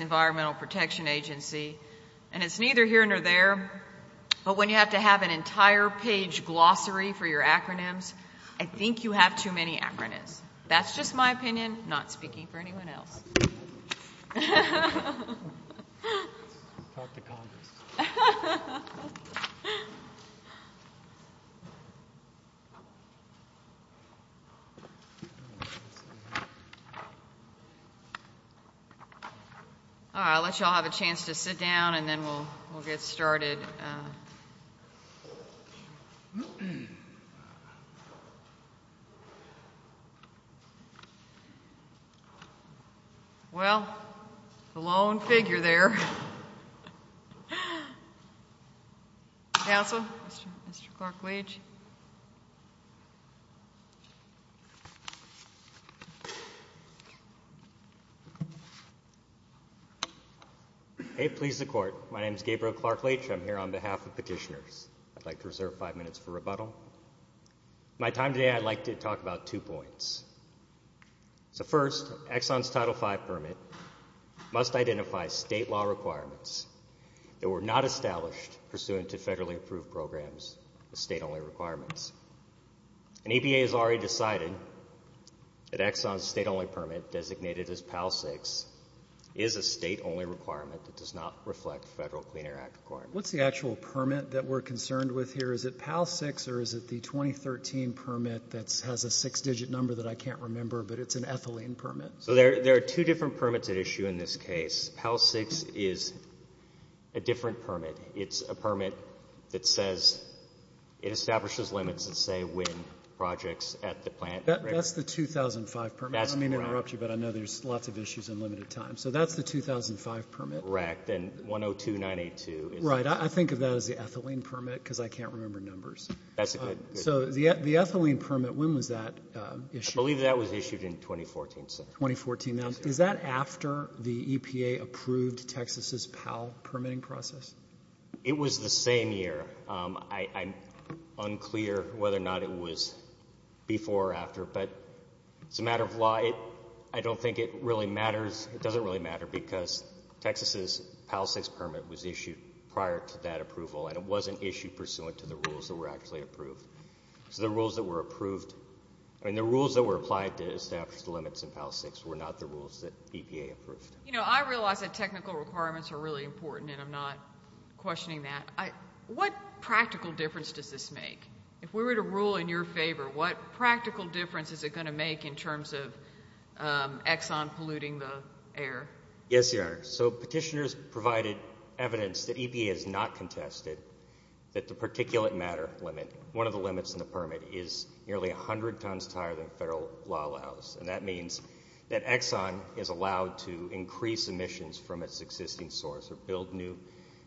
Environmental Protection Agency, and it's neither here nor there, but when you have to have an entire page glossary for your acronyms, I think you have too many acronyms. That's just my opinion, not speaking for anyone else. All right, I'll let you all have a chance to sit down and then we'll get started. Well, the lone figure there. Council, Mr. Clark-Leach. Hey, please, the Court. My name is Gabriel Clark-Leach. I'm here on behalf of petitioners. I'd like to reserve five minutes for rebuttal. My time today, I'd like to talk about two points. So first, Exxon's Title V permit must identify state law requirements that were not established pursuant to federally approved programs as state-only requirements. And EPA has already decided that Exxon's state-only permit designated as PAL-6 is a state-only requirement that does not reflect federal Clean Air Act requirements. What's the actual permit that we're concerned with here? Is it PAL-6 or is it the 2013 permit that has a six-digit number that I can't remember, but it's an ethylene permit? So there are two different permits at issue in this case. PAL-6 is a different permit. It's a permit that says it establishes limits that say when projects at the plant. That's the 2005 permit. I don't mean to interrupt you, but I know there's lots of issues in limited time. So that's the 2005 permit. Correct, and 102-982 is the... Right, I think of that as the ethylene permit because I can't remember numbers. That's a good... So the ethylene permit, when was that issued? I believe that was issued in 2014. 2014. Now, is that after the EPA approved Texas's PAL permitting process? It was the same year. I'm unclear whether or not it was before or after, but it's a matter of law. I don't think it really matters. It doesn't really matter because Texas's PAL-6 permit was issued prior to that approval and it wasn't issued pursuant to the rules that were actually approved. So the rules that were approved, I mean the rules that were applied to establish the limits in PAL-6 were not the rules that EPA approved. You know, I realize that technical requirements are really important and I'm not questioning that. What practical difference does this make? If we were to rule in your favor, what practical difference is it going to make in terms of Exxon polluting the air? Yes, Your Honor. So petitioners provided evidence that EPA has not contested that the particulate matter limit, one of the limits in the permit, is nearly 100 times higher than federal law allows. And that means that Exxon is allowed to increase emissions from its existing source or build new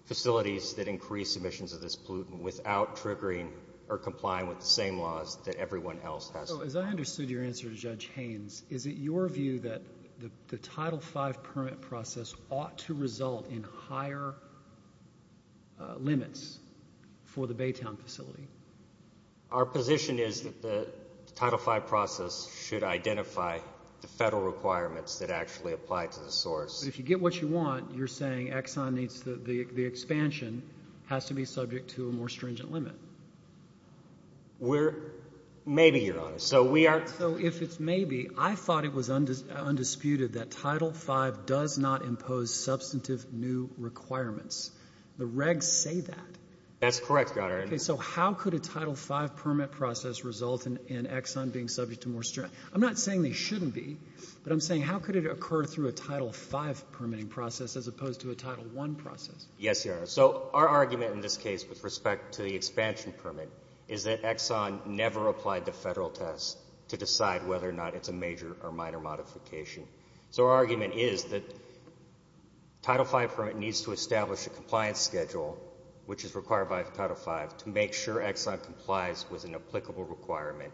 facilities that increase emissions of this pollutant without triggering or complying with the same laws that everyone else has. So as I understood your answer to Judge Haynes, is it your view that the Title V permit process ought to result in higher limits for the Baytown facility? Our position is that the Title V process should identify the federal requirements that actually apply to the source. But if you get what you want, you're saying Exxon needs the expansion has to be subject to a more stringent limit. Maybe, Your Honor. So we are I thought it was undisputed that Title V does not impose substantive new requirements. The regs say that. That's correct, Your Honor. Okay. So how could a Title V permit process result in Exxon being subject to more stringent? I'm not saying they shouldn't be, but I'm saying how could it occur through a Title V permitting process as opposed to a Title I process? Yes, Your Honor. So our argument in this case with respect to the expansion permit is that Exxon never applied to federal tests to decide whether or not it's a major or minor modification. So our argument is that Title V permit needs to establish a compliance schedule, which is required by Title V, to make sure Exxon complies with an applicable requirement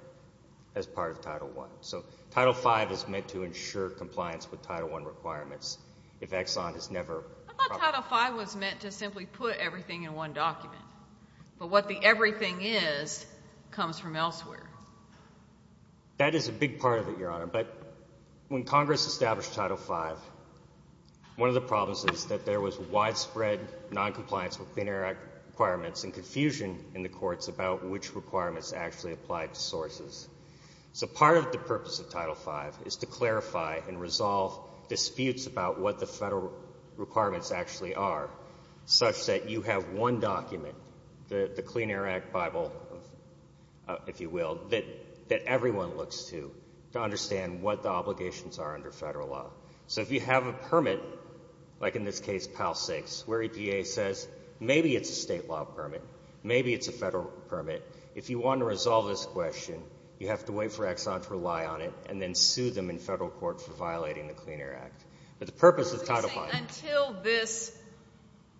as part of Title I. So Title V is meant to ensure compliance with Title I requirements if Exxon has never I thought Title V was meant to simply put everything in one document. But what the everything is comes from elsewhere. That is a big part of it, Your Honor. But when Congress established Title V, one of the problems is that there was widespread noncompliance with Clean Air Act requirements and confusion in the courts about which requirements actually applied to sources. So part of the purpose of Title V is to clarify and resolve disputes about what the the Clean Air Act Bible, if you will, that everyone looks to to understand what the obligations are under federal law. So if you have a permit, like in this case PAL 6, where EPA says maybe it's a state law permit, maybe it's a federal permit, if you want to resolve this question, you have to wait for Exxon to rely on it and then sue them in federal court for violating the Clean Air Act. Until this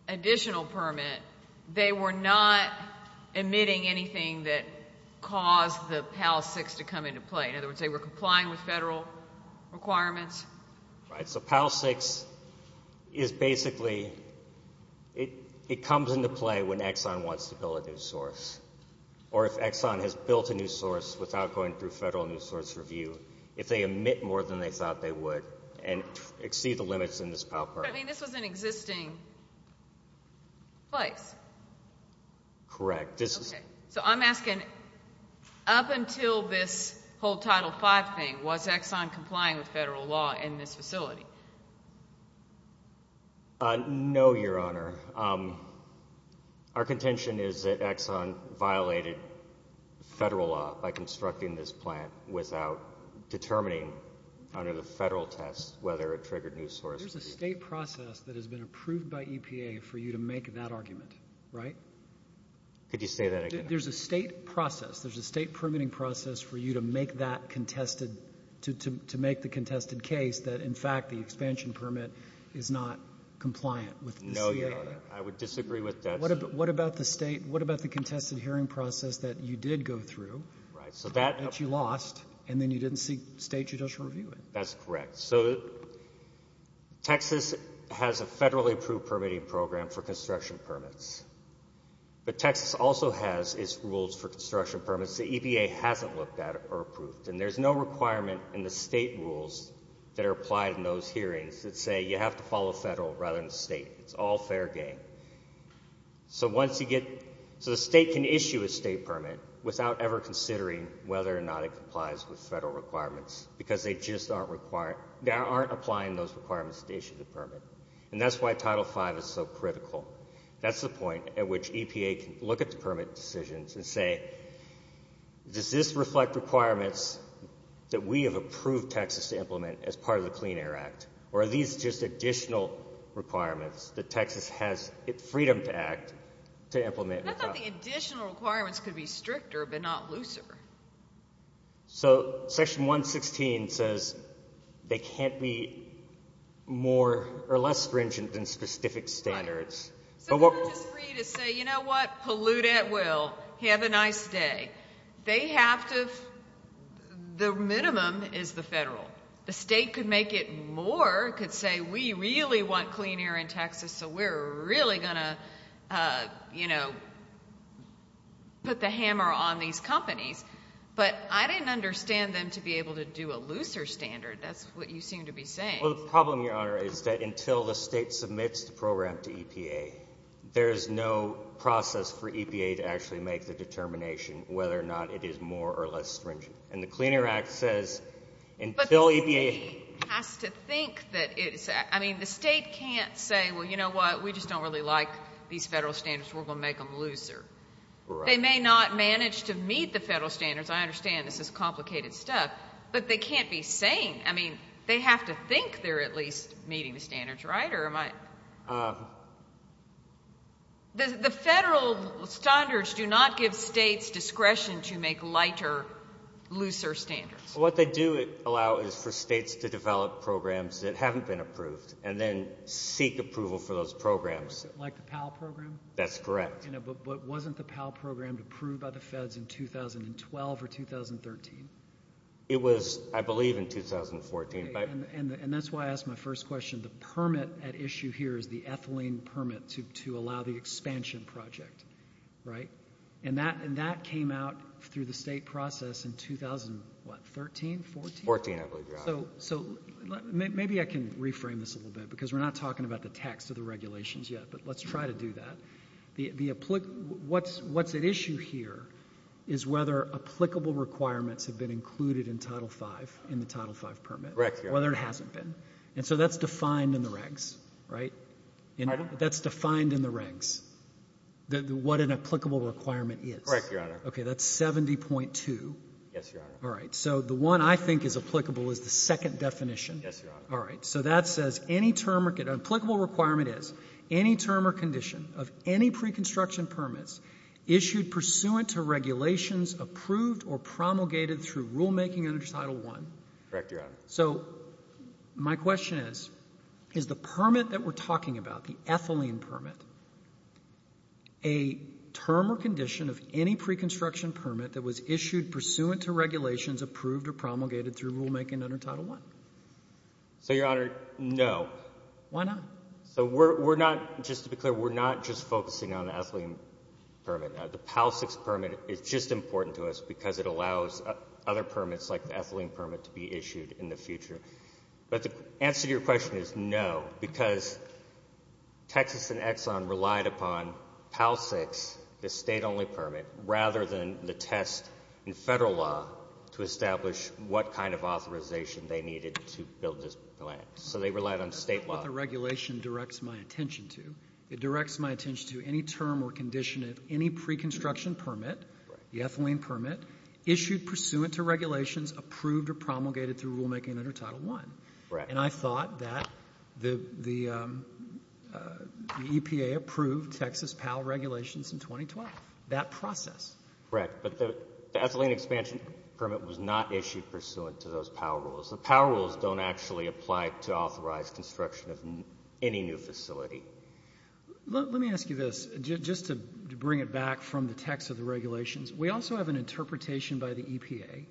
additional permit, they were not emitting anything that caused the PAL 6 to come into play. In other words, they were complying with federal requirements? Right. So PAL 6 is basically, it comes into play when Exxon wants to build a new source. Or if Exxon has built a new source without going through federal new source review, if they emit more than they thought they would and exceed the limits in this PAL permit. But this was an existing place? Correct. So I'm asking, up until this whole Title V thing, was Exxon complying with federal law in this facility? No, Your Honor. Our contention is that Exxon violated federal law by constructing this facility and determining under the federal test whether it triggered new source review. There's a state process that has been approved by EPA for you to make that argument, right? Could you say that again? There's a state process, there's a state permitting process for you to make that contested, to make the contested case that in fact the expansion permit is not compliant with the CAA? What about the state, what about the contested hearing process that you did go through, that you lost, and then you didn't seek state judicial review? That's correct. So Texas has a federally approved permitting program for construction permits. But Texas also has its rules for construction permits that EPA hasn't looked at or approved. And there's no requirement in the state rules that are applied in those cases by EPA. So once you get, so the state can issue a state permit without ever considering whether or not it complies with federal requirements, because they just aren't required, they aren't applying those requirements to issue the permit. And that's why Title V is so critical. That's the point at which EPA can look at the permit decisions and say, does this reflect requirements that we have approved Texas to implement as part of the Clean Air Act, or are these just additional requirements that Texas has freedom to act to implement? I thought the additional requirements could be stricter, but not looser. So Section 116 says they can't be more or less stringent than specific standards. Right. So we're not just free to say, you know what, pollute at will, have a nice day. They have to, the minimum is the federal. The state could make it more, could say we really want clean air in Texas, so we're really going to, you know, put the hammer on these companies. But I didn't understand them to be able to do a looser standard. That's what you seem to be saying. Well, the problem, Your Honor, is that until the state submits the program to EPA, there's no process for EPA to actually make the determination whether or not it is more or less stringent. And the Clean Air Act says until EPA has to think that it's, I mean, the state can't say, well, you know what, we just don't really like these federal standards, we're going to make them looser. Right. They may not manage to meet the federal standards. I understand this is complicated stuff. But they can't be saying, I mean, they have to think they're at least meeting the standards, right, or am I? The federal standards do not give states discretion to make lighter, looser standards. What they do allow is for states to develop programs that haven't been approved and then seek approval for those programs. Like the PAL program? That's correct. But wasn't the PAL program approved by the feds in 2012 or 2013? It was, I believe, in 2014. And that's why I asked my first question. The permit at issue here is the ethylene permit to allow the expansion project, right? And that came out through the state process in 2013, 14? 14, I believe, Your Honor. So maybe I can reframe this a little bit because we're not talking about the text of the regulations yet, but let's try to do that. What's at issue here is whether applicable requirements have been included in Title V, in the Title V permit. Correct, Your Honor. Whether it hasn't been. And so that's defined in the regs, right? Pardon? That's defined in the regs, what an applicable requirement is. Correct, Your Honor. Okay, that's 70.2. Yes, Your Honor. All right, so the one I think is applicable is the second definition. Yes, Your Honor. All right, so that says any term, an applicable requirement is any term or condition of any pre-construction permits issued pursuant to regulations approved or promulgated through rulemaking under Title I. Correct, Your Honor. So my question is, is the permit that we're talking about, the ethylene permit, a term or condition of any pre-construction permit that was issued pursuant to regulations approved or promulgated through rulemaking under Title I? So, Your Honor, no. Why not? So we're not, just to be clear, we're not just focusing on the ethylene permit. The PAL-6 permit is just important to us because it allows other permits like the ethylene permit to be issued in the future. But the answer to your question is no, because Texas and Exxon relied upon PAL-6, the state-only permit, rather than the test in federal law to establish what kind of authorization they needed to build this plant. So they relied on state law. That's what the regulation directs my attention to. It directs my attention to any term or condition of any pre-construction permit, the ethylene permit, issued pursuant to regulations approved or promulgated through rulemaking under Title I. Correct. And I thought that the EPA approved Texas PAL regulations in 2012, that process. Correct. But the ethylene expansion permit was not issued pursuant to those PAL rules. The PAL rules don't actually apply to authorized construction of any new facility. Let me ask you this, just to bring it back from the text of the regulations. We also have an interpretation by the EPA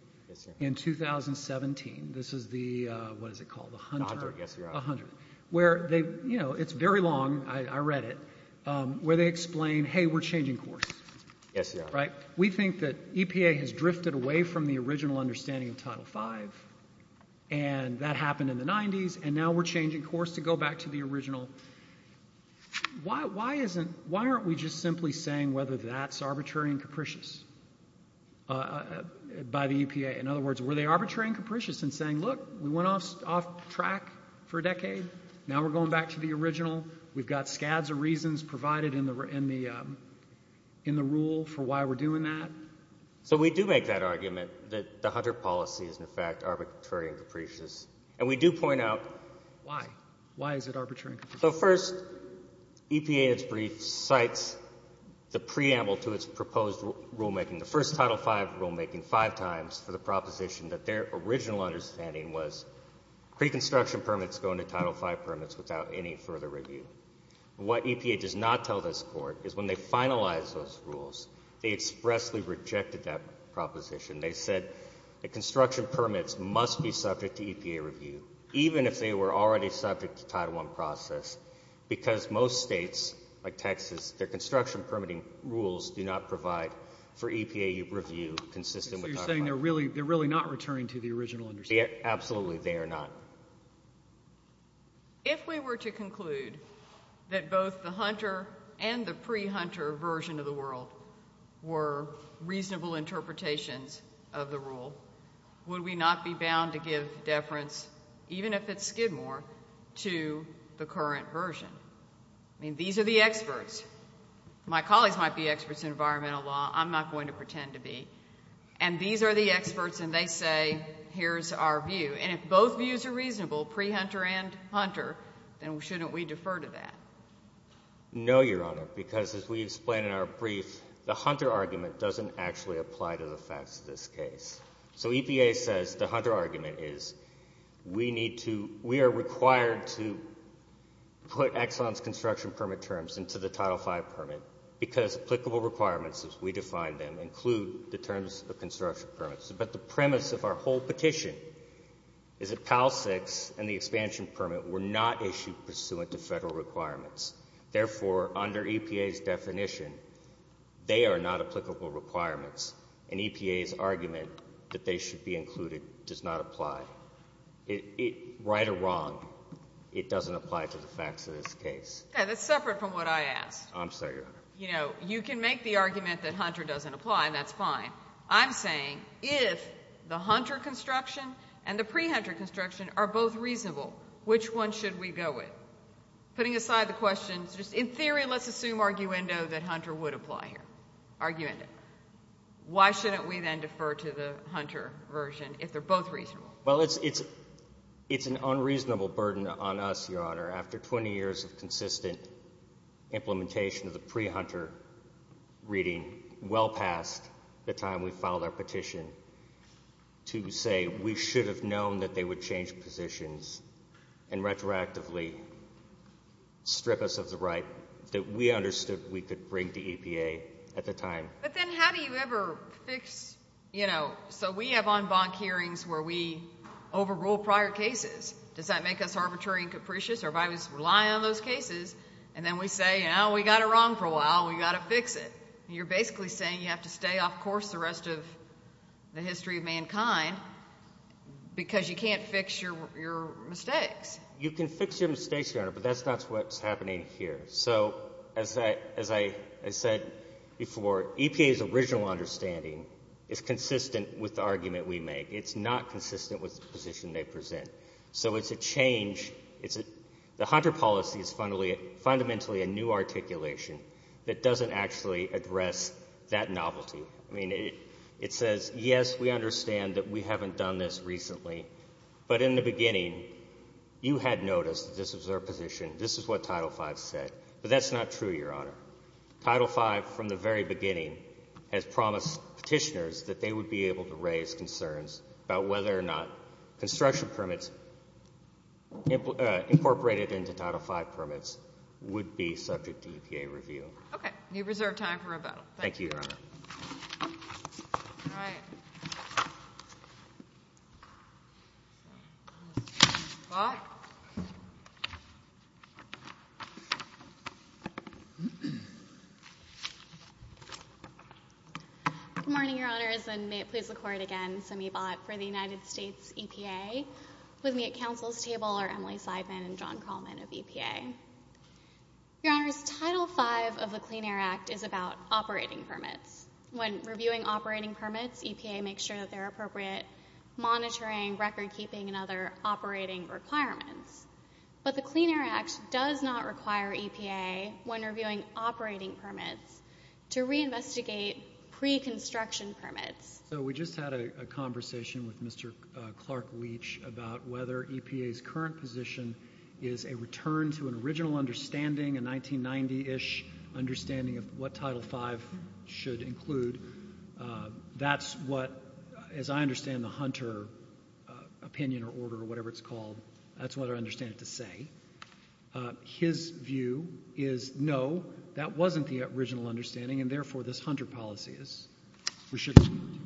in 2017. This is the, what is it called, the Hunter? The Hunter, yes, Your Honor. The Hunter, where they, you know, it's very long, I read it, where they explain, hey, we're changing course. Yes, Your Honor. Right? We think that EPA has drifted away from the original understanding of Title V, and that happened in the 90s, and now we're changing course to go back to the original. Why aren't we just simply saying whether that's arbitrary and capricious by the EPA? In other words, were they arbitrary and capricious in saying, look, we went off track for a decade, now we're going back to the original, we've got scads of reasons provided in the rule for why we're doing that? So we do make that argument, that the Hunter policy is, in fact, arbitrary and capricious. And we do point out... So first, EPA in its brief cites the preamble to its proposed rulemaking, the first Title V rulemaking, five times for the proposition that their original understanding was pre-construction permits go into Title V permits without any further review. What EPA does not tell this Court is when they finalized those rules, they expressly rejected that proposition. They said that construction permits must be subject to EPA review, even if they were already subject to Title I process, because most states like Texas, their construction permitting rules do not provide for EPA review consistent with Title V. So you're saying they're really not returning to the original understanding. Absolutely, they are not. If we were to conclude that both the Hunter and the pre-Hunter version of the world were reasonable interpretations of the rule, would we not be bound to give deference, even if it's Skidmore, to the current version? I mean, these are the experts. My colleagues might be experts in environmental law. I'm not going to pretend to be. And these are the experts, and they say, here's our view. And if both views are reasonable, pre-Hunter and Hunter, then shouldn't we defer to that? No, Your Honor, because as we explain in our brief, the Hunter argument doesn't actually apply to the facts of this case. So EPA says the Hunter argument is we are required to put Exxon's construction permit terms into the Title V permit because applicable requirements as we define them include the terms of construction permits. But the premise of our whole petition is that PAL 6 and the expansion permit were not issued pursuant to Federal requirements. Therefore, under EPA's definition, they are not applicable requirements, and EPA's argument that they should be included does not apply. Right or wrong, it doesn't apply to the facts of this case. Okay, that's separate from what I asked. I'm sorry, Your Honor. You know, you can make the argument that Hunter doesn't apply, and that's fine. I'm saying if the Hunter construction and the pre-Hunter construction are both reasonable, which one should we go with? Putting aside the questions, in theory, let's assume arguendo that Hunter would apply here. Arguendo. Why shouldn't we then defer to the Hunter version if they're both reasonable? Well, it's an unreasonable burden on us, Your Honor, after 20 years of consistent implementation of the pre-Hunter reading, well past the time we filed our petition, to say we should have known that they would change positions and retroactively strip us of the right that we understood we could bring to EPA at the time. But then how do you ever fix, you know, so we have en banc hearings where we overrule prior cases. Does that make us arbitrary and capricious? Our bodies rely on those cases, and then we say, you know, we got it wrong for a while. We've got to fix it. You're basically saying you have to stay off course the rest of the history of mankind because you can't fix your mistakes. You can fix your mistakes, Your Honor, but that's not what's happening here. So as I said before, EPA's original understanding is consistent with the argument we make. It's not consistent with the position they present. So it's a change. The Hunter policy is fundamentally a new articulation that doesn't actually address that novelty. I mean, it says, yes, we understand that we haven't done this recently, but in the beginning you had noticed that this was our position. This is what Title V said, but that's not true, Your Honor. Title V from the very beginning has promised petitioners that they would be able to raise concerns about whether or not construction permits incorporated into Title V permits would be subject to EPA review. Okay. You have reserved time for rebuttal. Thank you, Your Honor. Good morning, Your Honors, and may it please the Court again, Semibot for the United States EPA. With me at counsel's table are Emily Seidman and John Kralman of EPA. Your Honors, Title V of the Clean Air Act is about operating permits. When reviewing operating permits, EPA makes sure that they're appropriate, monitoring, recordkeeping, and other operating requirements. But the Clean Air Act does not require EPA, when reviewing operating permits, to reinvestigate pre-construction permits. So we just had a conversation with Mr. Clark Leach about whether EPA's current position is a return to an original understanding, a 1990-ish understanding of what Title V should include. That's what, as I understand the Hunter opinion or order or whatever it's called, that's what I understand it to say. His view is, no, that wasn't the original understanding, and therefore this Hunter policy is, we shouldn't include it.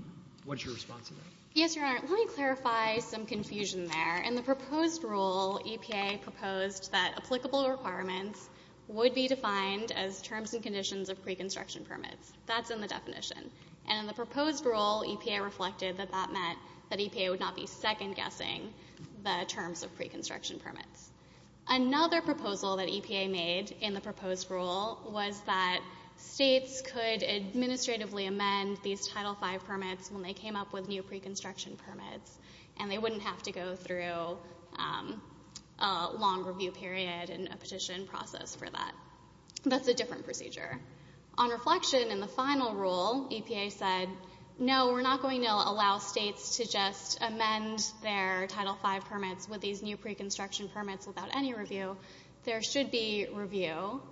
What's your response to that? Yes, Your Honor. Let me clarify some confusion there. In the proposed rule, EPA proposed that applicable requirements would be defined as terms and conditions of pre-construction permits. That's in the definition. And in the proposed rule, EPA reflected that that meant that EPA would not be second-guessing the terms of pre-construction permits. Another proposal that EPA made in the proposed rule was that states could administratively amend these Title V permits when they came up with new pre-construction permits, and they wouldn't have to go through a long review period and a petition process for that. That's a different procedure. On reflection, in the final rule, EPA said, no, we're not going to allow states to just amend their Title V permits with these new pre-construction permits without any review. There should be review.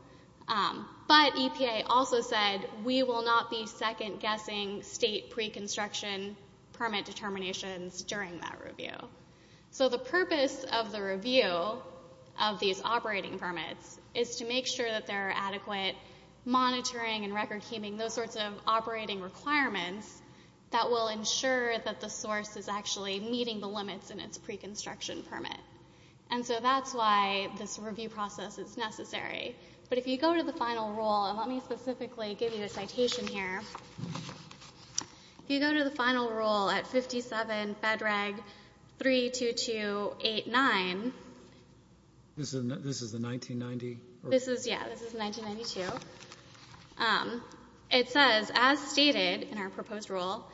But EPA also said, we will not be second-guessing state pre-construction permit determinations during that review. So the purpose of the review of these operating permits is to make sure that there are adequate monitoring and record-keeping, those sorts of operating requirements, that will ensure that the source is actually meeting the limits in its pre-construction permit. And so that's why this review process is necessary. But if you go to the final rule, and let me specifically give you a citation here. If you go to the final rule at 57 FEDRAG 32289. This is the 1990? Yeah, this is 1992. It says, as stated in our proposed rule,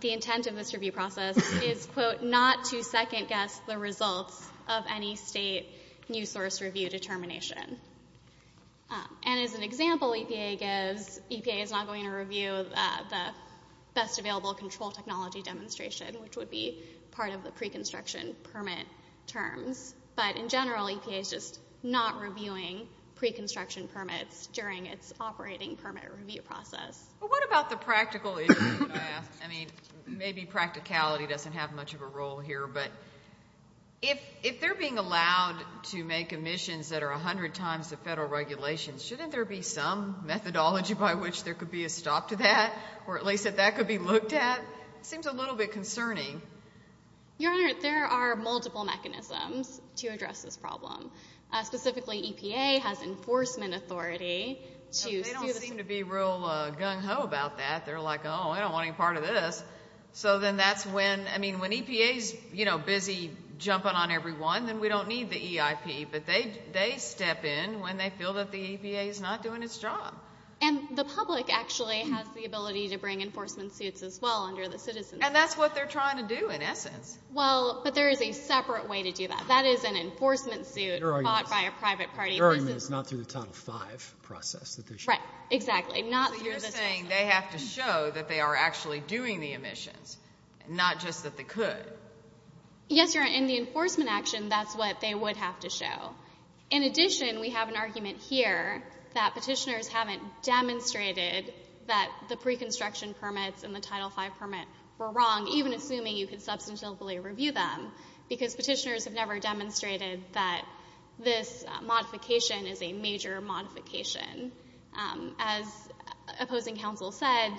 the intent of this review process is, quote, not to second-guess the results of any state new source review determination. And as an example, EPA is not going to review the best available control technology demonstration, which would be part of the pre-construction permit terms. But in general, EPA is just not reviewing pre-construction permits during its operating permit review process. What about the practical issue? I mean, maybe practicality doesn't have much of a role here. But if they're being allowed to make emissions that are 100 times the federal regulations, shouldn't there be some methodology by which there could be a stop to that, or at least that that could be looked at? It seems a little bit concerning. Your Honor, there are multiple mechanisms to address this problem. Specifically, EPA has enforcement authority to sue the state. They don't seem to be real gung-ho about that. They're like, oh, I don't want any part of this. So then that's when, I mean, when EPA is, you know, busy jumping on everyone, then we don't need the EIP. But they step in when they feel that the EPA is not doing its job. And the public actually has the ability to bring enforcement suits as well under the Citizens Act. And that's what they're trying to do, in essence. Well, but there is a separate way to do that. That is an enforcement suit brought by a private party. Your argument is not through the Title V process. Right, exactly. So you're saying they have to show that they are actually doing the emissions, not just that they could. Yes, Your Honor. In the enforcement action, that's what they would have to show. In addition, we have an argument here that petitioners haven't demonstrated that the pre-construction permits and the Title V permit were wrong, even assuming you could substantively review them, because petitioners have never demonstrated that this modification is a major modification. As opposing counsel said,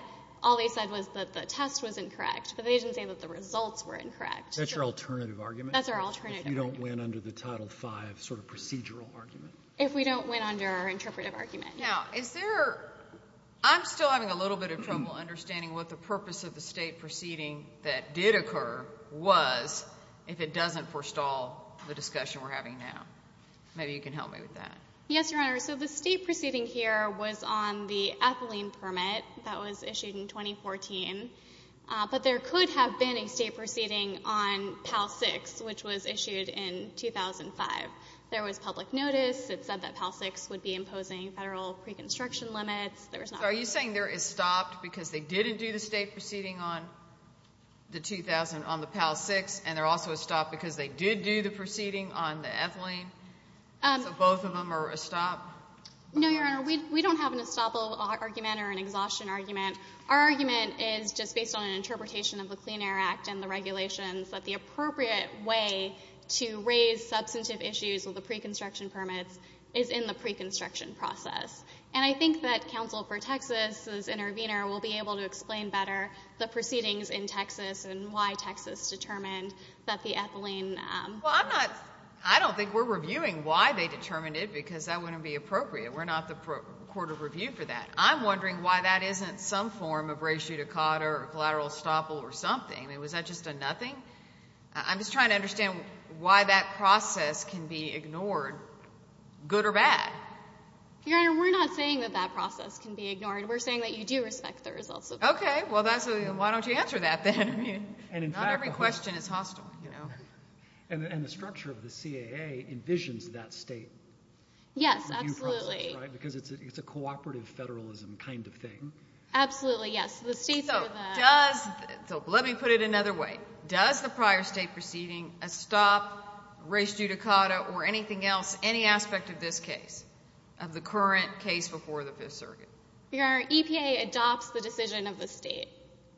all they said was that the test was incorrect, but they didn't say that the results were incorrect. That's your alternative argument? That's our alternative argument. If you don't win under the Title V sort of procedural argument? If we don't win under our interpretive argument. Now, is there – I'm still having a little bit of trouble understanding what the purpose of the State proceeding that did occur was if it doesn't forestall the discussion we're having now. Maybe you can help me with that. Yes, Your Honor. So the State proceeding here was on the ethylene permit that was issued in 2014, but there could have been a State proceeding on PAL-6, which was issued in 2005. There was public notice that said that PAL-6 would be imposing federal pre-construction limits. Are you saying there is stop because they didn't do the State proceeding on the PAL-6, and there also is stop because they did do the proceeding on the ethylene? So both of them are a stop? No, Your Honor. We don't have an estoppel argument or an exhaustion argument. Our argument is just based on an interpretation of the Clean Air Act and the regulations that the appropriate way to raise substantive issues with the pre-construction permits is in the pre-construction process. And I think that counsel for Texas, as intervener, will be able to explain better the proceedings in Texas and why Texas determined that the ethylene – Well, I'm not – I don't think we're reviewing why they determined it because that wouldn't be appropriate. We're not the court of review for that. I'm wondering why that isn't some form of ratio to cotter or collateral estoppel or something. I mean, was that just a nothing? I'm just trying to understand why that process can be ignored, good or bad. Your Honor, we're not saying that that process can be ignored. We're saying that you do respect the results of it. Okay. Well, that's a – why don't you answer that then? Not every question is hostile. And the structure of the CAA envisions that state. Yes, absolutely. Because it's a cooperative federalism kind of thing. Absolutely, yes. So let me put it another way. Does the prior state proceeding estop race due to cotter or anything else, any aspect of this case, of the current case before the Fifth Circuit? Your Honor, EPA adopts the decision of the state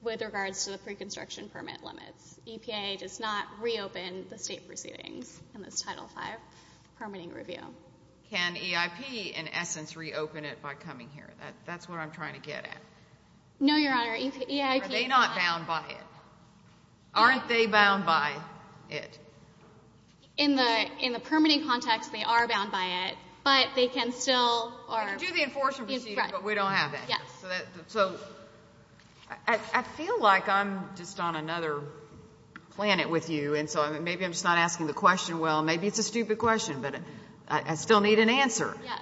with regards to the pre-construction permit limits. EPA does not reopen the state proceedings in this Title V permitting review. Can EIP, in essence, reopen it by coming here? That's what I'm trying to get at. No, Your Honor, EIP – Are they not bound by it? Aren't they bound by it? In the permitting context, they are bound by it, but they can still – We can do the enforcement proceedings, but we don't have that. Yes. So I feel like I'm just on another planet with you, and so maybe I'm just not asking the question well. Maybe it's a stupid question, but I still need an answer. Yes.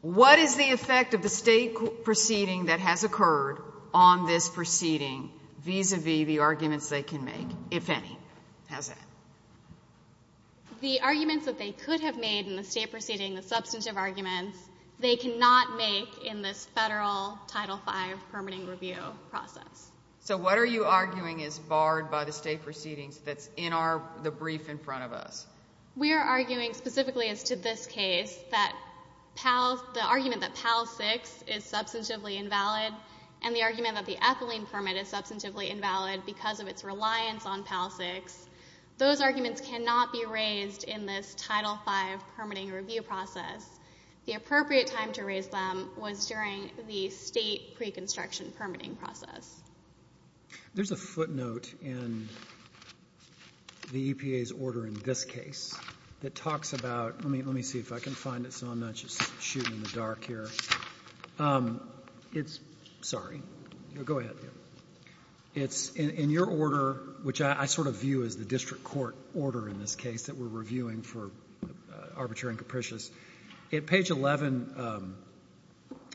What is the effect of the state proceeding that has occurred on this proceeding vis-à-vis the arguments they can make, if any? How's that? The arguments that they could have made in the state proceeding, the substantive arguments, they cannot make in this federal Title V permitting review process. So what are you arguing is barred by the state proceedings that's in the brief in front of us? We are arguing specifically as to this case that the argument that PAL-6 is substantively invalid and the argument that the ethylene permit is substantively invalid because of its reliance on PAL-6, those arguments cannot be raised in this Title V permitting review process. The appropriate time to raise them was during the state pre-construction permitting process. There's a footnote in the EPA's order in this case that talks about – let me see if I can find it so I'm not just shooting in the dark here. It's – sorry. Go ahead. It's in your order, which I sort of view as the district court order in this case that we're reviewing for arbitrary and capricious. At page 11,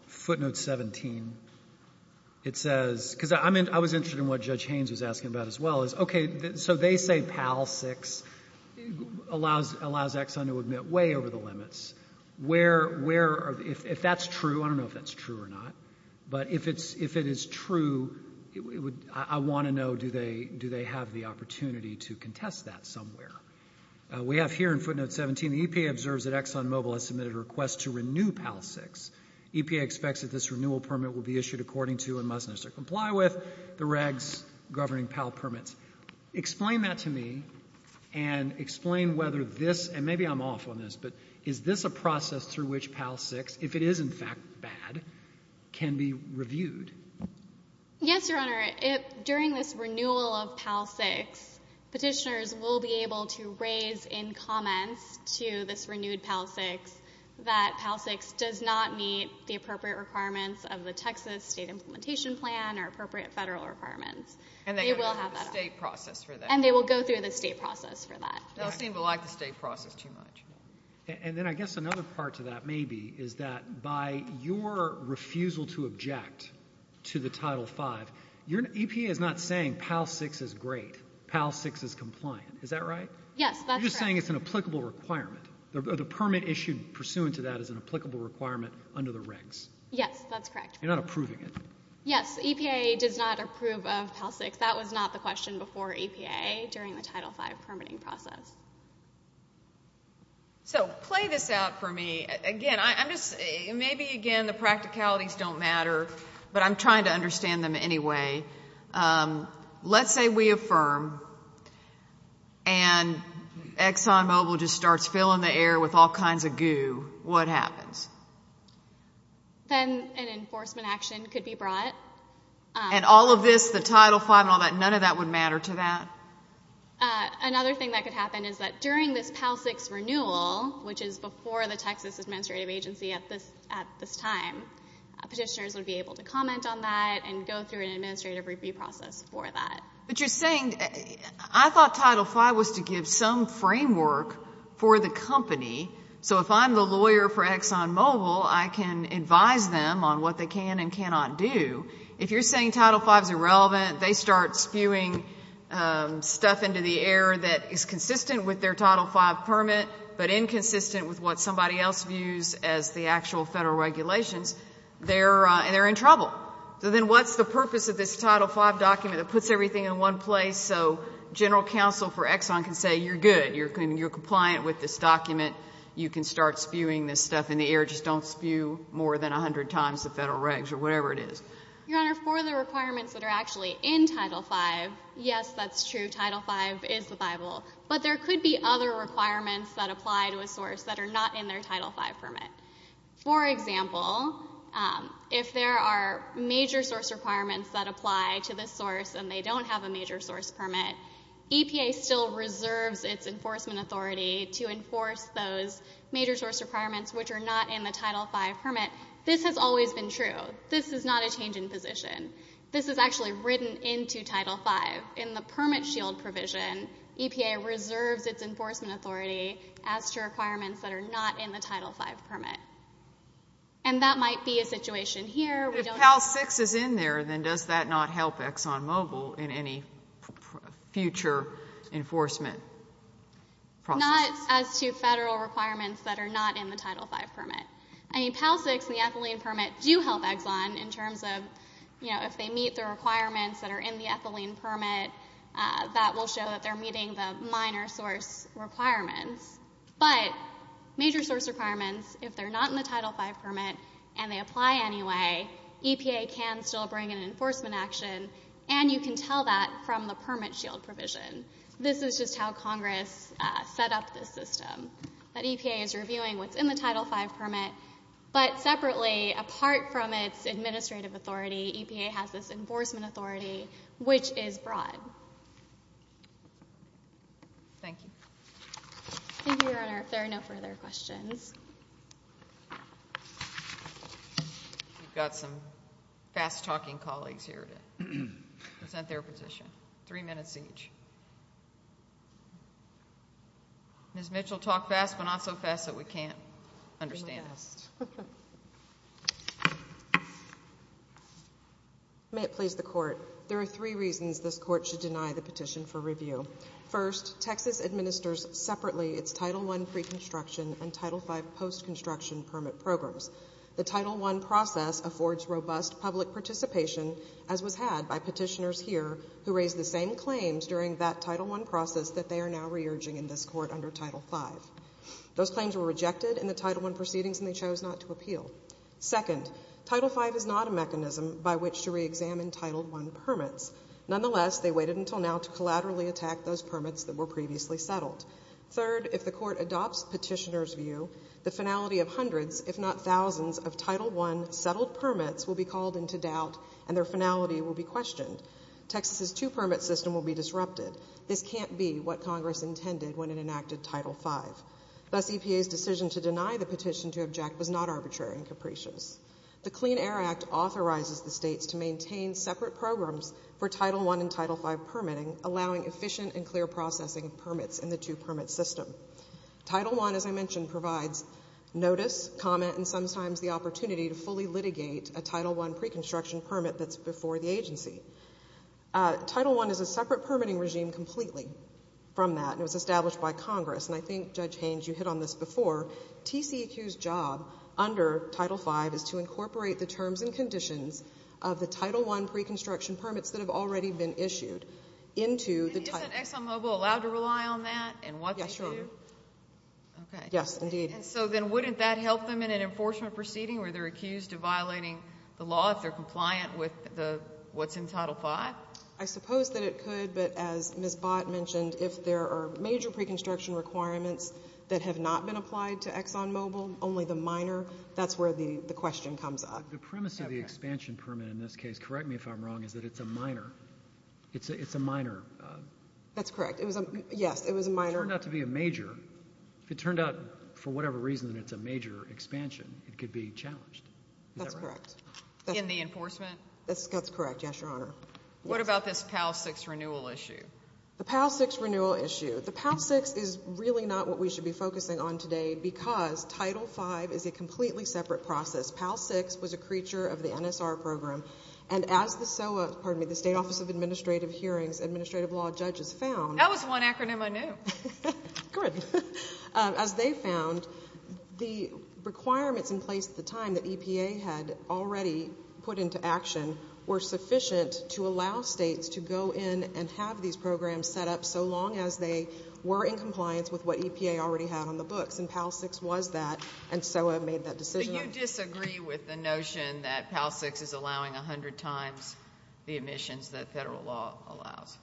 footnote 17, it says – because I was interested in what Judge Haynes was asking about as well. Okay, so they say PAL-6 allows Exxon to admit way over the limits. Where – if that's true, I don't know if that's true or not, but if it is true, I want to know, do they have the opportunity to contest that somewhere? We have here in footnote 17, the EPA observes that ExxonMobil has submitted a request to renew PAL-6. EPA expects that this renewal permit will be issued according to and must necessarily comply with the regs governing PAL permits. Explain that to me and explain whether this – and maybe I'm off on this, but is this a process through which PAL-6, if it is in fact bad, can be reviewed? Yes, Your Honor. During this renewal of PAL-6, petitioners will be able to raise in comments to this renewed PAL-6 that PAL-6 does not meet the appropriate requirements of the Texas State Implementation Plan or appropriate federal requirements. And they will go through the state process for that. And they will go through the state process for that. They'll seem to like the state process too much. And then I guess another part to that maybe is that by your refusal to object to the Title V, EPA is not saying PAL-6 is great, PAL-6 is compliant. Is that right? Yes, that's correct. You're just saying it's an applicable requirement. The permit issued pursuant to that is an applicable requirement under the regs. Yes, that's correct. You're not approving it. Yes, EPA does not approve of PAL-6. That was not the question before EPA during the Title V permitting process. So play this out for me. Again, maybe again the practicalities don't matter, but I'm trying to understand them anyway. Let's say we affirm and ExxonMobil just starts filling the air with all kinds of goo. What happens? Then an enforcement action could be brought. And all of this, the Title V and all that, none of that would matter to that? Another thing that could happen is that during this PAL-6 renewal, which is before the Texas Administrative Agency at this time, petitioners would be able to comment on that and go through an administrative review process for that. But you're saying I thought Title V was to give some framework for the company so if I'm the lawyer for ExxonMobil, I can advise them on what they can and cannot do. If you're saying Title V is irrelevant, they start spewing stuff into the air that is consistent with their Title V permit but inconsistent with what somebody else views as the actual federal regulations, they're in trouble. So then what's the purpose of this Title V document that puts everything in one place so general counsel for Exxon can say you're good, you're compliant with this document, you can start spewing this stuff in the air, just don't spew more than 100 times the federal regs or whatever it is? Your Honor, for the requirements that are actually in Title V, yes, that's true, Title V is the Bible. But there could be other requirements that apply to a source that are not in their Title V permit. For example, if there are major source requirements that apply to this source and they don't have a major source permit, EPA still reserves its enforcement authority to enforce those major source requirements which are not in the Title V permit. This has always been true. This is not a change in position. This is actually written into Title V. In the permit shield provision, EPA reserves its enforcement authority as to requirements that are not in the Title V permit. And that might be a situation here. If PAL-6 is in there, then does that not help Exxon Mobil in any future enforcement process? Not as to federal requirements that are not in the Title V permit. PAL-6 and the ethylene permit do help Exxon in terms of if they meet the requirements that are in the ethylene permit, that will show that they're meeting the minor source requirements. But major source requirements, if they're not in the Title V permit and they apply anyway, EPA can still bring an enforcement action, and you can tell that from the permit shield provision. This is just how Congress set up this system, that EPA is reviewing what's in the Title V permit, but separately, apart from its administrative authority, EPA has this enforcement authority which is broad. Thank you. Thank you, Your Honor. If there are no further questions. We've got some fast-talking colleagues here to present their petition. Three minutes each. Ms. Mitchell, talk fast, but not so fast that we can't understand this. May it please the Court. There are three reasons this Court should deny the petition for review. First, Texas administers separately its Title I pre-construction and Title V post-construction permit programs. The Title I process affords robust public participation, as was had by petitioners here who raised the same claims during that Title I process that they are now re-urging in this Court under Title V. Those claims were rejected in the Title I proceedings, and they chose not to appeal. Second, Title V is not a mechanism by which to re-examine Title I permits. Nonetheless, they waited until now to collaterally attack those permits that were previously settled. Third, if the Court adopts petitioners' view, the finality of hundreds, if not thousands, of Title I settled permits will be called into doubt, and their finality will be questioned. Texas's two-permit system will be disrupted. This can't be what Congress intended when it enacted Title V. Thus, EPA's decision to deny the petition to object was not arbitrary and capricious. The Clean Air Act authorizes the states to maintain separate programs for Title I and Title V permitting, allowing efficient and clear processing of permits in the two-permit system. Title I, as I mentioned, provides notice, comment, and sometimes the opportunity to fully litigate a Title I pre-construction permit that's before the agency. Title I is a separate permitting regime completely from that, and it was established by Congress, and I think, Judge Haynes, you hit on this before. TCEQ's job under Title V is to incorporate the terms and conditions of the Title I pre-construction permits that have already been issued into the title. Isn't ExxonMobil allowed to rely on that and what they do? Yes, Your Honor. Okay. Yes, indeed. And so then wouldn't that help them in an enforcement proceeding where they're accused of violating the law if they're compliant with what's in Title V? I suppose that it could, but as Ms. Bott mentioned, if there are major pre-construction requirements that have not been applied to ExxonMobil, only the minor, that's where the question comes up. The premise of the expansion permit in this case, correct me if I'm wrong, is that it's a minor. It's a minor. That's correct. Yes, it was a minor. If it turned out to be a major, if it turned out for whatever reason that it's a major expansion, it could be challenged. Is that right? That's correct. In the enforcement? That's correct, yes, Your Honor. What about this PAL-6 renewal issue? The PAL-6 renewal issue. The PAL-6 is really not what we should be focusing on today because Title V is a completely separate process. PAL-6 was a creature of the NSR program, and as the SOA, pardon me, the State Office of Administrative Hearings Administrative Law judges found. That was one acronym I knew. Good. As they found, the requirements in place at the time that EPA had already put into action were sufficient to allow states to go in and have these programs set up so long as they were in compliance with what EPA already had on the books, and PAL-6 was that, and SOA made that decision. Do you disagree with the notion that PAL-6 is allowing 100 times the emissions that federal law allows?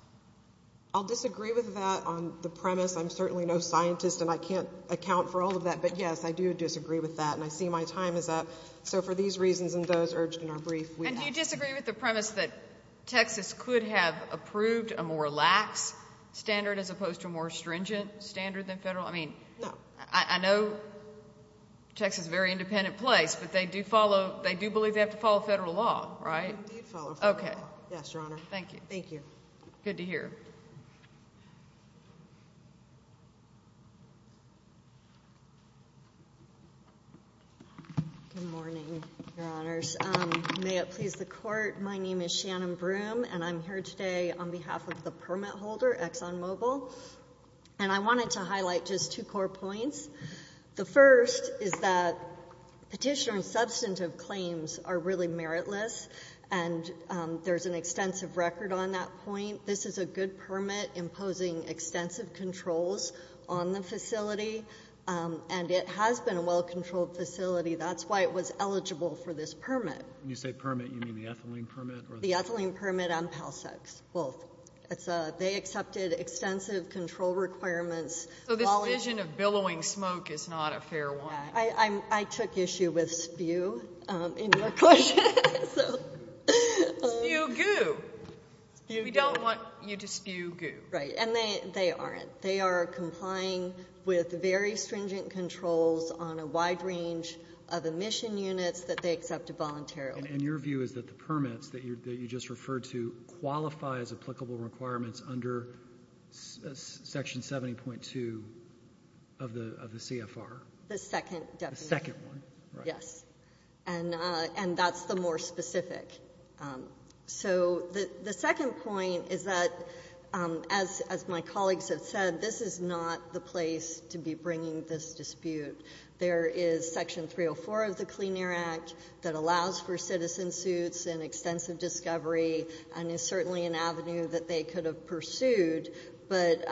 I'll disagree with that on the premise. I'm certainly no scientist, and I can't account for all of that. But, yes, I do disagree with that, and I see my time is up. So for these reasons and those urged in our brief, we actually— And do you disagree with the premise that Texas could have approved a more lax standard as opposed to a more stringent standard than federal? No. I mean, I know Texas is a very independent place, but they do believe they have to follow federal law, right? They do follow federal law. Okay. Yes, Your Honor. Thank you. Thank you. Good to hear. Good morning, Your Honors. May it please the Court, my name is Shannon Broom, and I'm here today on behalf of the permit holder, ExxonMobil. And I wanted to highlight just two core points. The first is that petitioner and substantive claims are really meritless, and there's an extensive record on that point. I think this is a good permit imposing extensive controls on the facility, and it has been a well-controlled facility. That's why it was eligible for this permit. When you say permit, you mean the ethylene permit? The ethylene permit and PALSEX, both. They accepted extensive control requirements. So this vision of billowing smoke is not a fair one. I took issue with spew in your question. Spew goo. We don't want you to spew goo. Right. And they aren't. They are complying with very stringent controls on a wide range of emission units that they accepted voluntarily. And your view is that the permits that you just referred to qualify as applicable requirements under Section 70.2 of the CFR? The second definition. The second one, right. Yes. And that's the more specific. So the second point is that, as my colleagues have said, this is not the place to be bringing this dispute. There is Section 304 of the Clean Air Act that allows for citizen suits and extensive discovery and is certainly an avenue that they could have pursued. But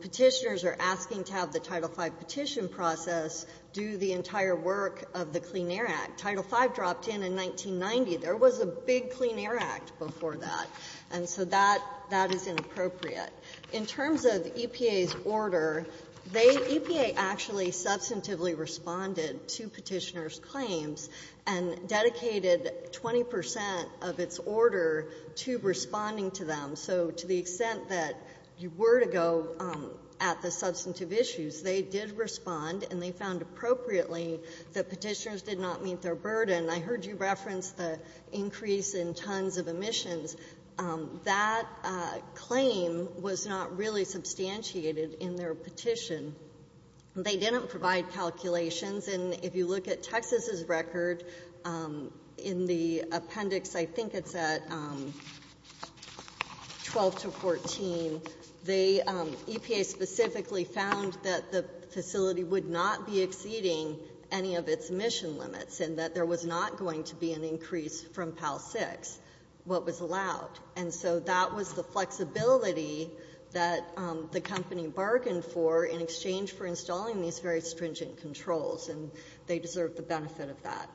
petitioners are asking to have the Title V petition process do the entire work of the Clean Air Act. Title V dropped in in 1990. There was a big Clean Air Act before that. And so that is inappropriate. In terms of EPA's order, they EPA actually substantively responded to petitioners' claims and dedicated 20 percent of its order to responding to them. So to the extent that you were to go at the substantive issues, they did respond and they found appropriately that petitioners did not meet their burden. I heard you reference the increase in tons of emissions. That claim was not really substantiated in their petition. They didn't provide calculations. And if you look at Texas's record in the appendix, I think it's at 12 to 14, EPA specifically found that the facility would not be exceeding any of its emission limits and that there was not going to be an increase from PAL-6, what was allowed. And so that was the flexibility that the company bargained for in exchange for installing these very stringent controls, and they deserve the benefit of that.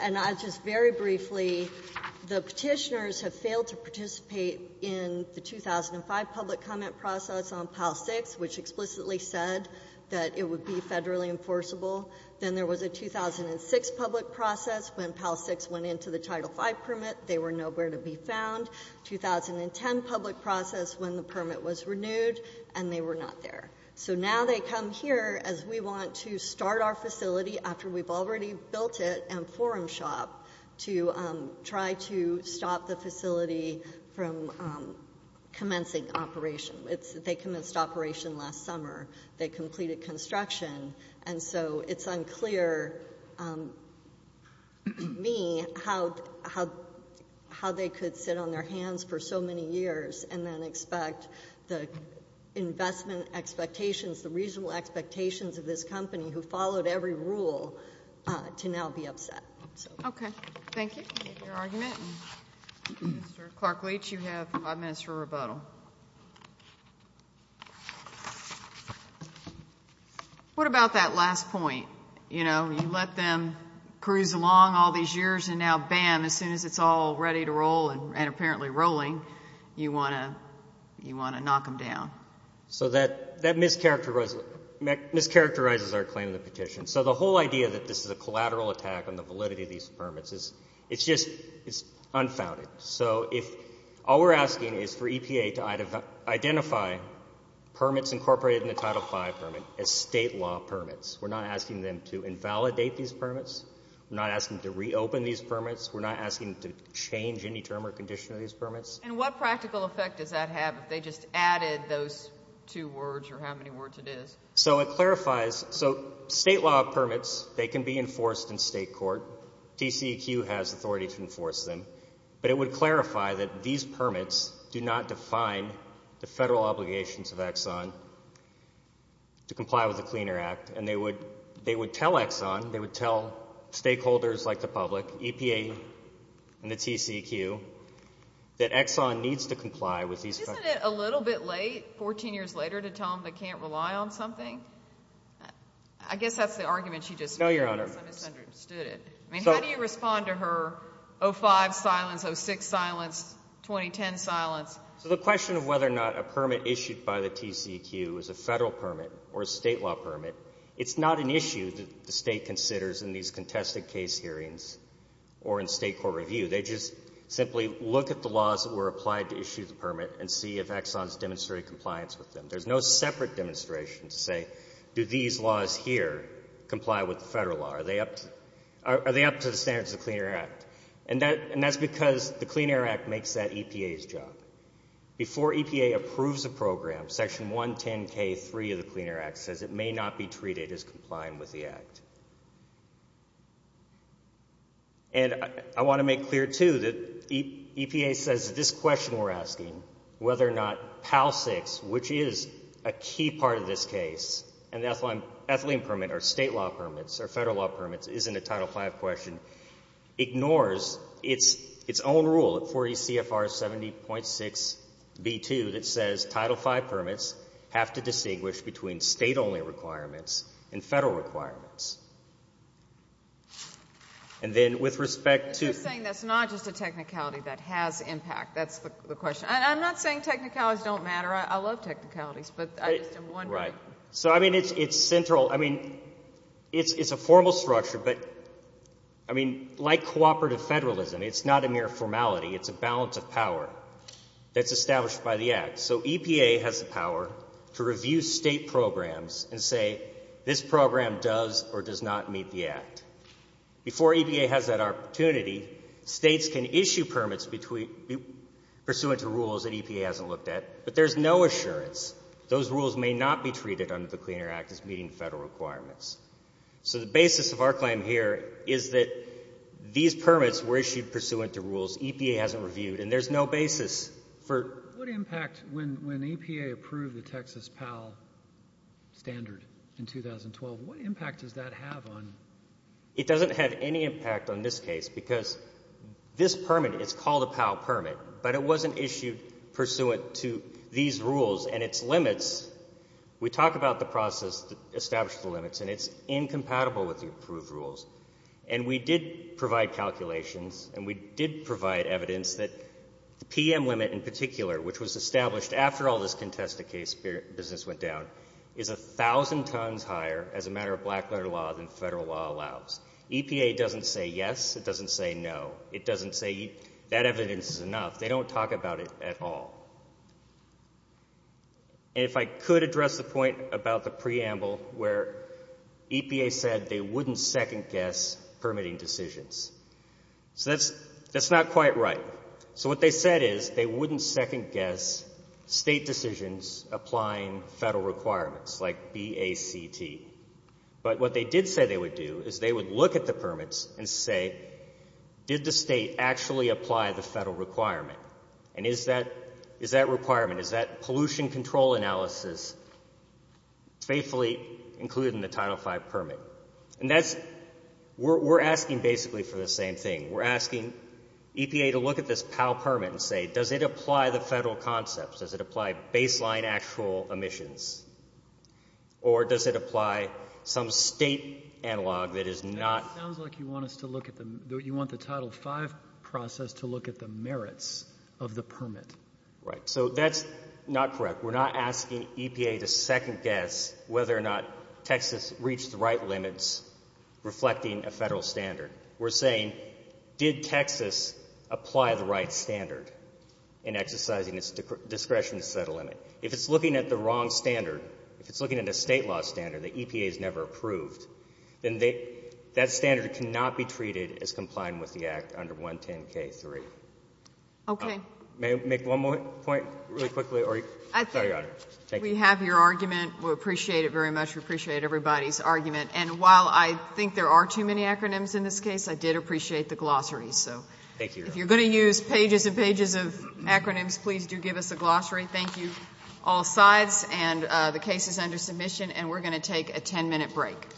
And just very briefly, the petitioners have failed to participate in the 2005 public comment process on PAL-6, which explicitly said that it would be federally enforceable. Then there was a 2006 public process when PAL-6 went into the Title V permit. They were nowhere to be found. 2010 public process when the permit was renewed, and they were not there. So now they come here as we want to start our facility after we've already built it and forum shop to try to stop the facility from commencing operation. They commenced operation last summer. They completed construction. And so it's unclear to me how they could sit on their hands for so many years and then expect the investment expectations, the reasonable expectations of this company who followed every rule to now be upset. Okay. Thank you for your argument. Mr. Clark-Leach, you have five minutes for rebuttal. What about that last point, you know, you let them cruise along all these years and now, bam, as soon as it's all ready to roll and apparently rolling, you want to knock them down? So that mischaracterizes our claim to the petition. So the whole idea that this is a collateral attack on the validity of these permits, it's just unfounded. So all we're asking is for EPA to identify permits incorporated in the Title V permit as state law permits. We're not asking them to invalidate these permits. We're not asking them to reopen these permits. We're not asking them to change any term or condition of these permits. And what practical effect does that have if they just added those two words or how many words it is? So it clarifies. So state law permits, they can be enforced in state court. TCEQ has authority to enforce them. But it would clarify that these permits do not define the federal obligations of Exxon to comply with the Cleaner Act, and they would tell Exxon, they would tell stakeholders like the public, EPA and the TCEQ, that Exxon needs to comply with these permits. Isn't it a little bit late 14 years later to tell them they can't rely on something? I guess that's the argument you just made. No, Your Honor. I guess I misunderstood it. I mean, how do you respond to her 05 silence, 06 silence, 2010 silence? So the question of whether or not a permit issued by the TCEQ is a federal permit or a state law permit, it's not an issue that the state considers in these contested case hearings or in state court review. They just simply look at the laws that were applied to issue the permit and see if Exxon has demonstrated compliance with them. There's no separate demonstration to say, do these laws here comply with the federal law? Are they up to the standards of the Cleaner Act? And that's because the Cleaner Act makes that EPA's job. Before EPA approves a program, Section 110K3 of the Cleaner Act says it may not be treated as complying with the act. And I want to make clear, too, that EPA says that this question we're asking, whether or not PAL-6, which is a key part of this case, and the ethylene permit or state law permits or federal law permits isn't a Title V question, ignores its own rule at 40 CFR 70.6b2 that says Title V permits have to distinguish between state-only requirements and federal requirements. And then with respect to the... You're saying that's not just a technicality that has impact. That's the question. I'm not saying technicalities don't matter. I love technicalities, but I just am wondering. Right. So, I mean, it's central. I mean, it's a formal structure, but, I mean, like cooperative federalism, it's not a mere formality. It's a balance of power that's established by the act. So EPA has the power to review state programs and say, this program does or does not meet the act. Before EPA has that opportunity, states can issue permits pursuant to rules that EPA hasn't looked at, but there's no assurance. Those rules may not be treated under the Clean Air Act as meeting federal requirements. So the basis of our claim here is that these permits were issued pursuant to rules EPA hasn't reviewed, and there's no basis for... What impact, when EPA approved the Texas PAL standard in 2012, what impact does that have on... It doesn't have any impact on this case because this permit is called a PAL permit, but it wasn't issued pursuant to these rules and its limits. We talk about the process that established the limits, and it's incompatible with the approved rules. And we did provide calculations, and we did provide evidence that the PM limit in particular, which was established after all this contested case business went down, is 1,000 tons higher as a matter of black-letter law than federal law allows. EPA doesn't say yes. It doesn't say no. It doesn't say that evidence is enough. They don't talk about it at all. And if I could address the point about the preamble where EPA said they wouldn't second-guess permitting decisions. So that's not quite right. So what they said is they wouldn't second-guess state decisions applying federal requirements like BACT. But what they did say they would do is they would look at the permits and say, did the state actually apply the federal requirement? And is that requirement, is that pollution control analysis faithfully included in the Title V permit? And we're asking basically for the same thing. We're asking EPA to look at this PAL permit and say, does it apply the federal concepts? Does it apply baseline actual emissions? Or does it apply some state analog that is not? It sounds like you want us to look at the Title V process to look at the merits of the permit. Right. So that's not correct. We're not asking EPA to second-guess whether or not Texas reached the right limits reflecting a federal standard. We're saying, did Texas apply the right standard in exercising its discretion to set a limit? If it's looking at the wrong standard, if it's looking at a State law standard that EPA has never approved, then that standard cannot be treated as complying with the Act under 110K3. Okay. May I make one more point really quickly? I think we have your argument. We appreciate it very much. We appreciate everybody's argument. And while I think there are too many acronyms in this case, I did appreciate the glossary. Thank you. If you're going to use pages and pages of acronyms, please do give us a glossary. Thank you, all sides. The case is under submission, and we're going to take a ten-minute break.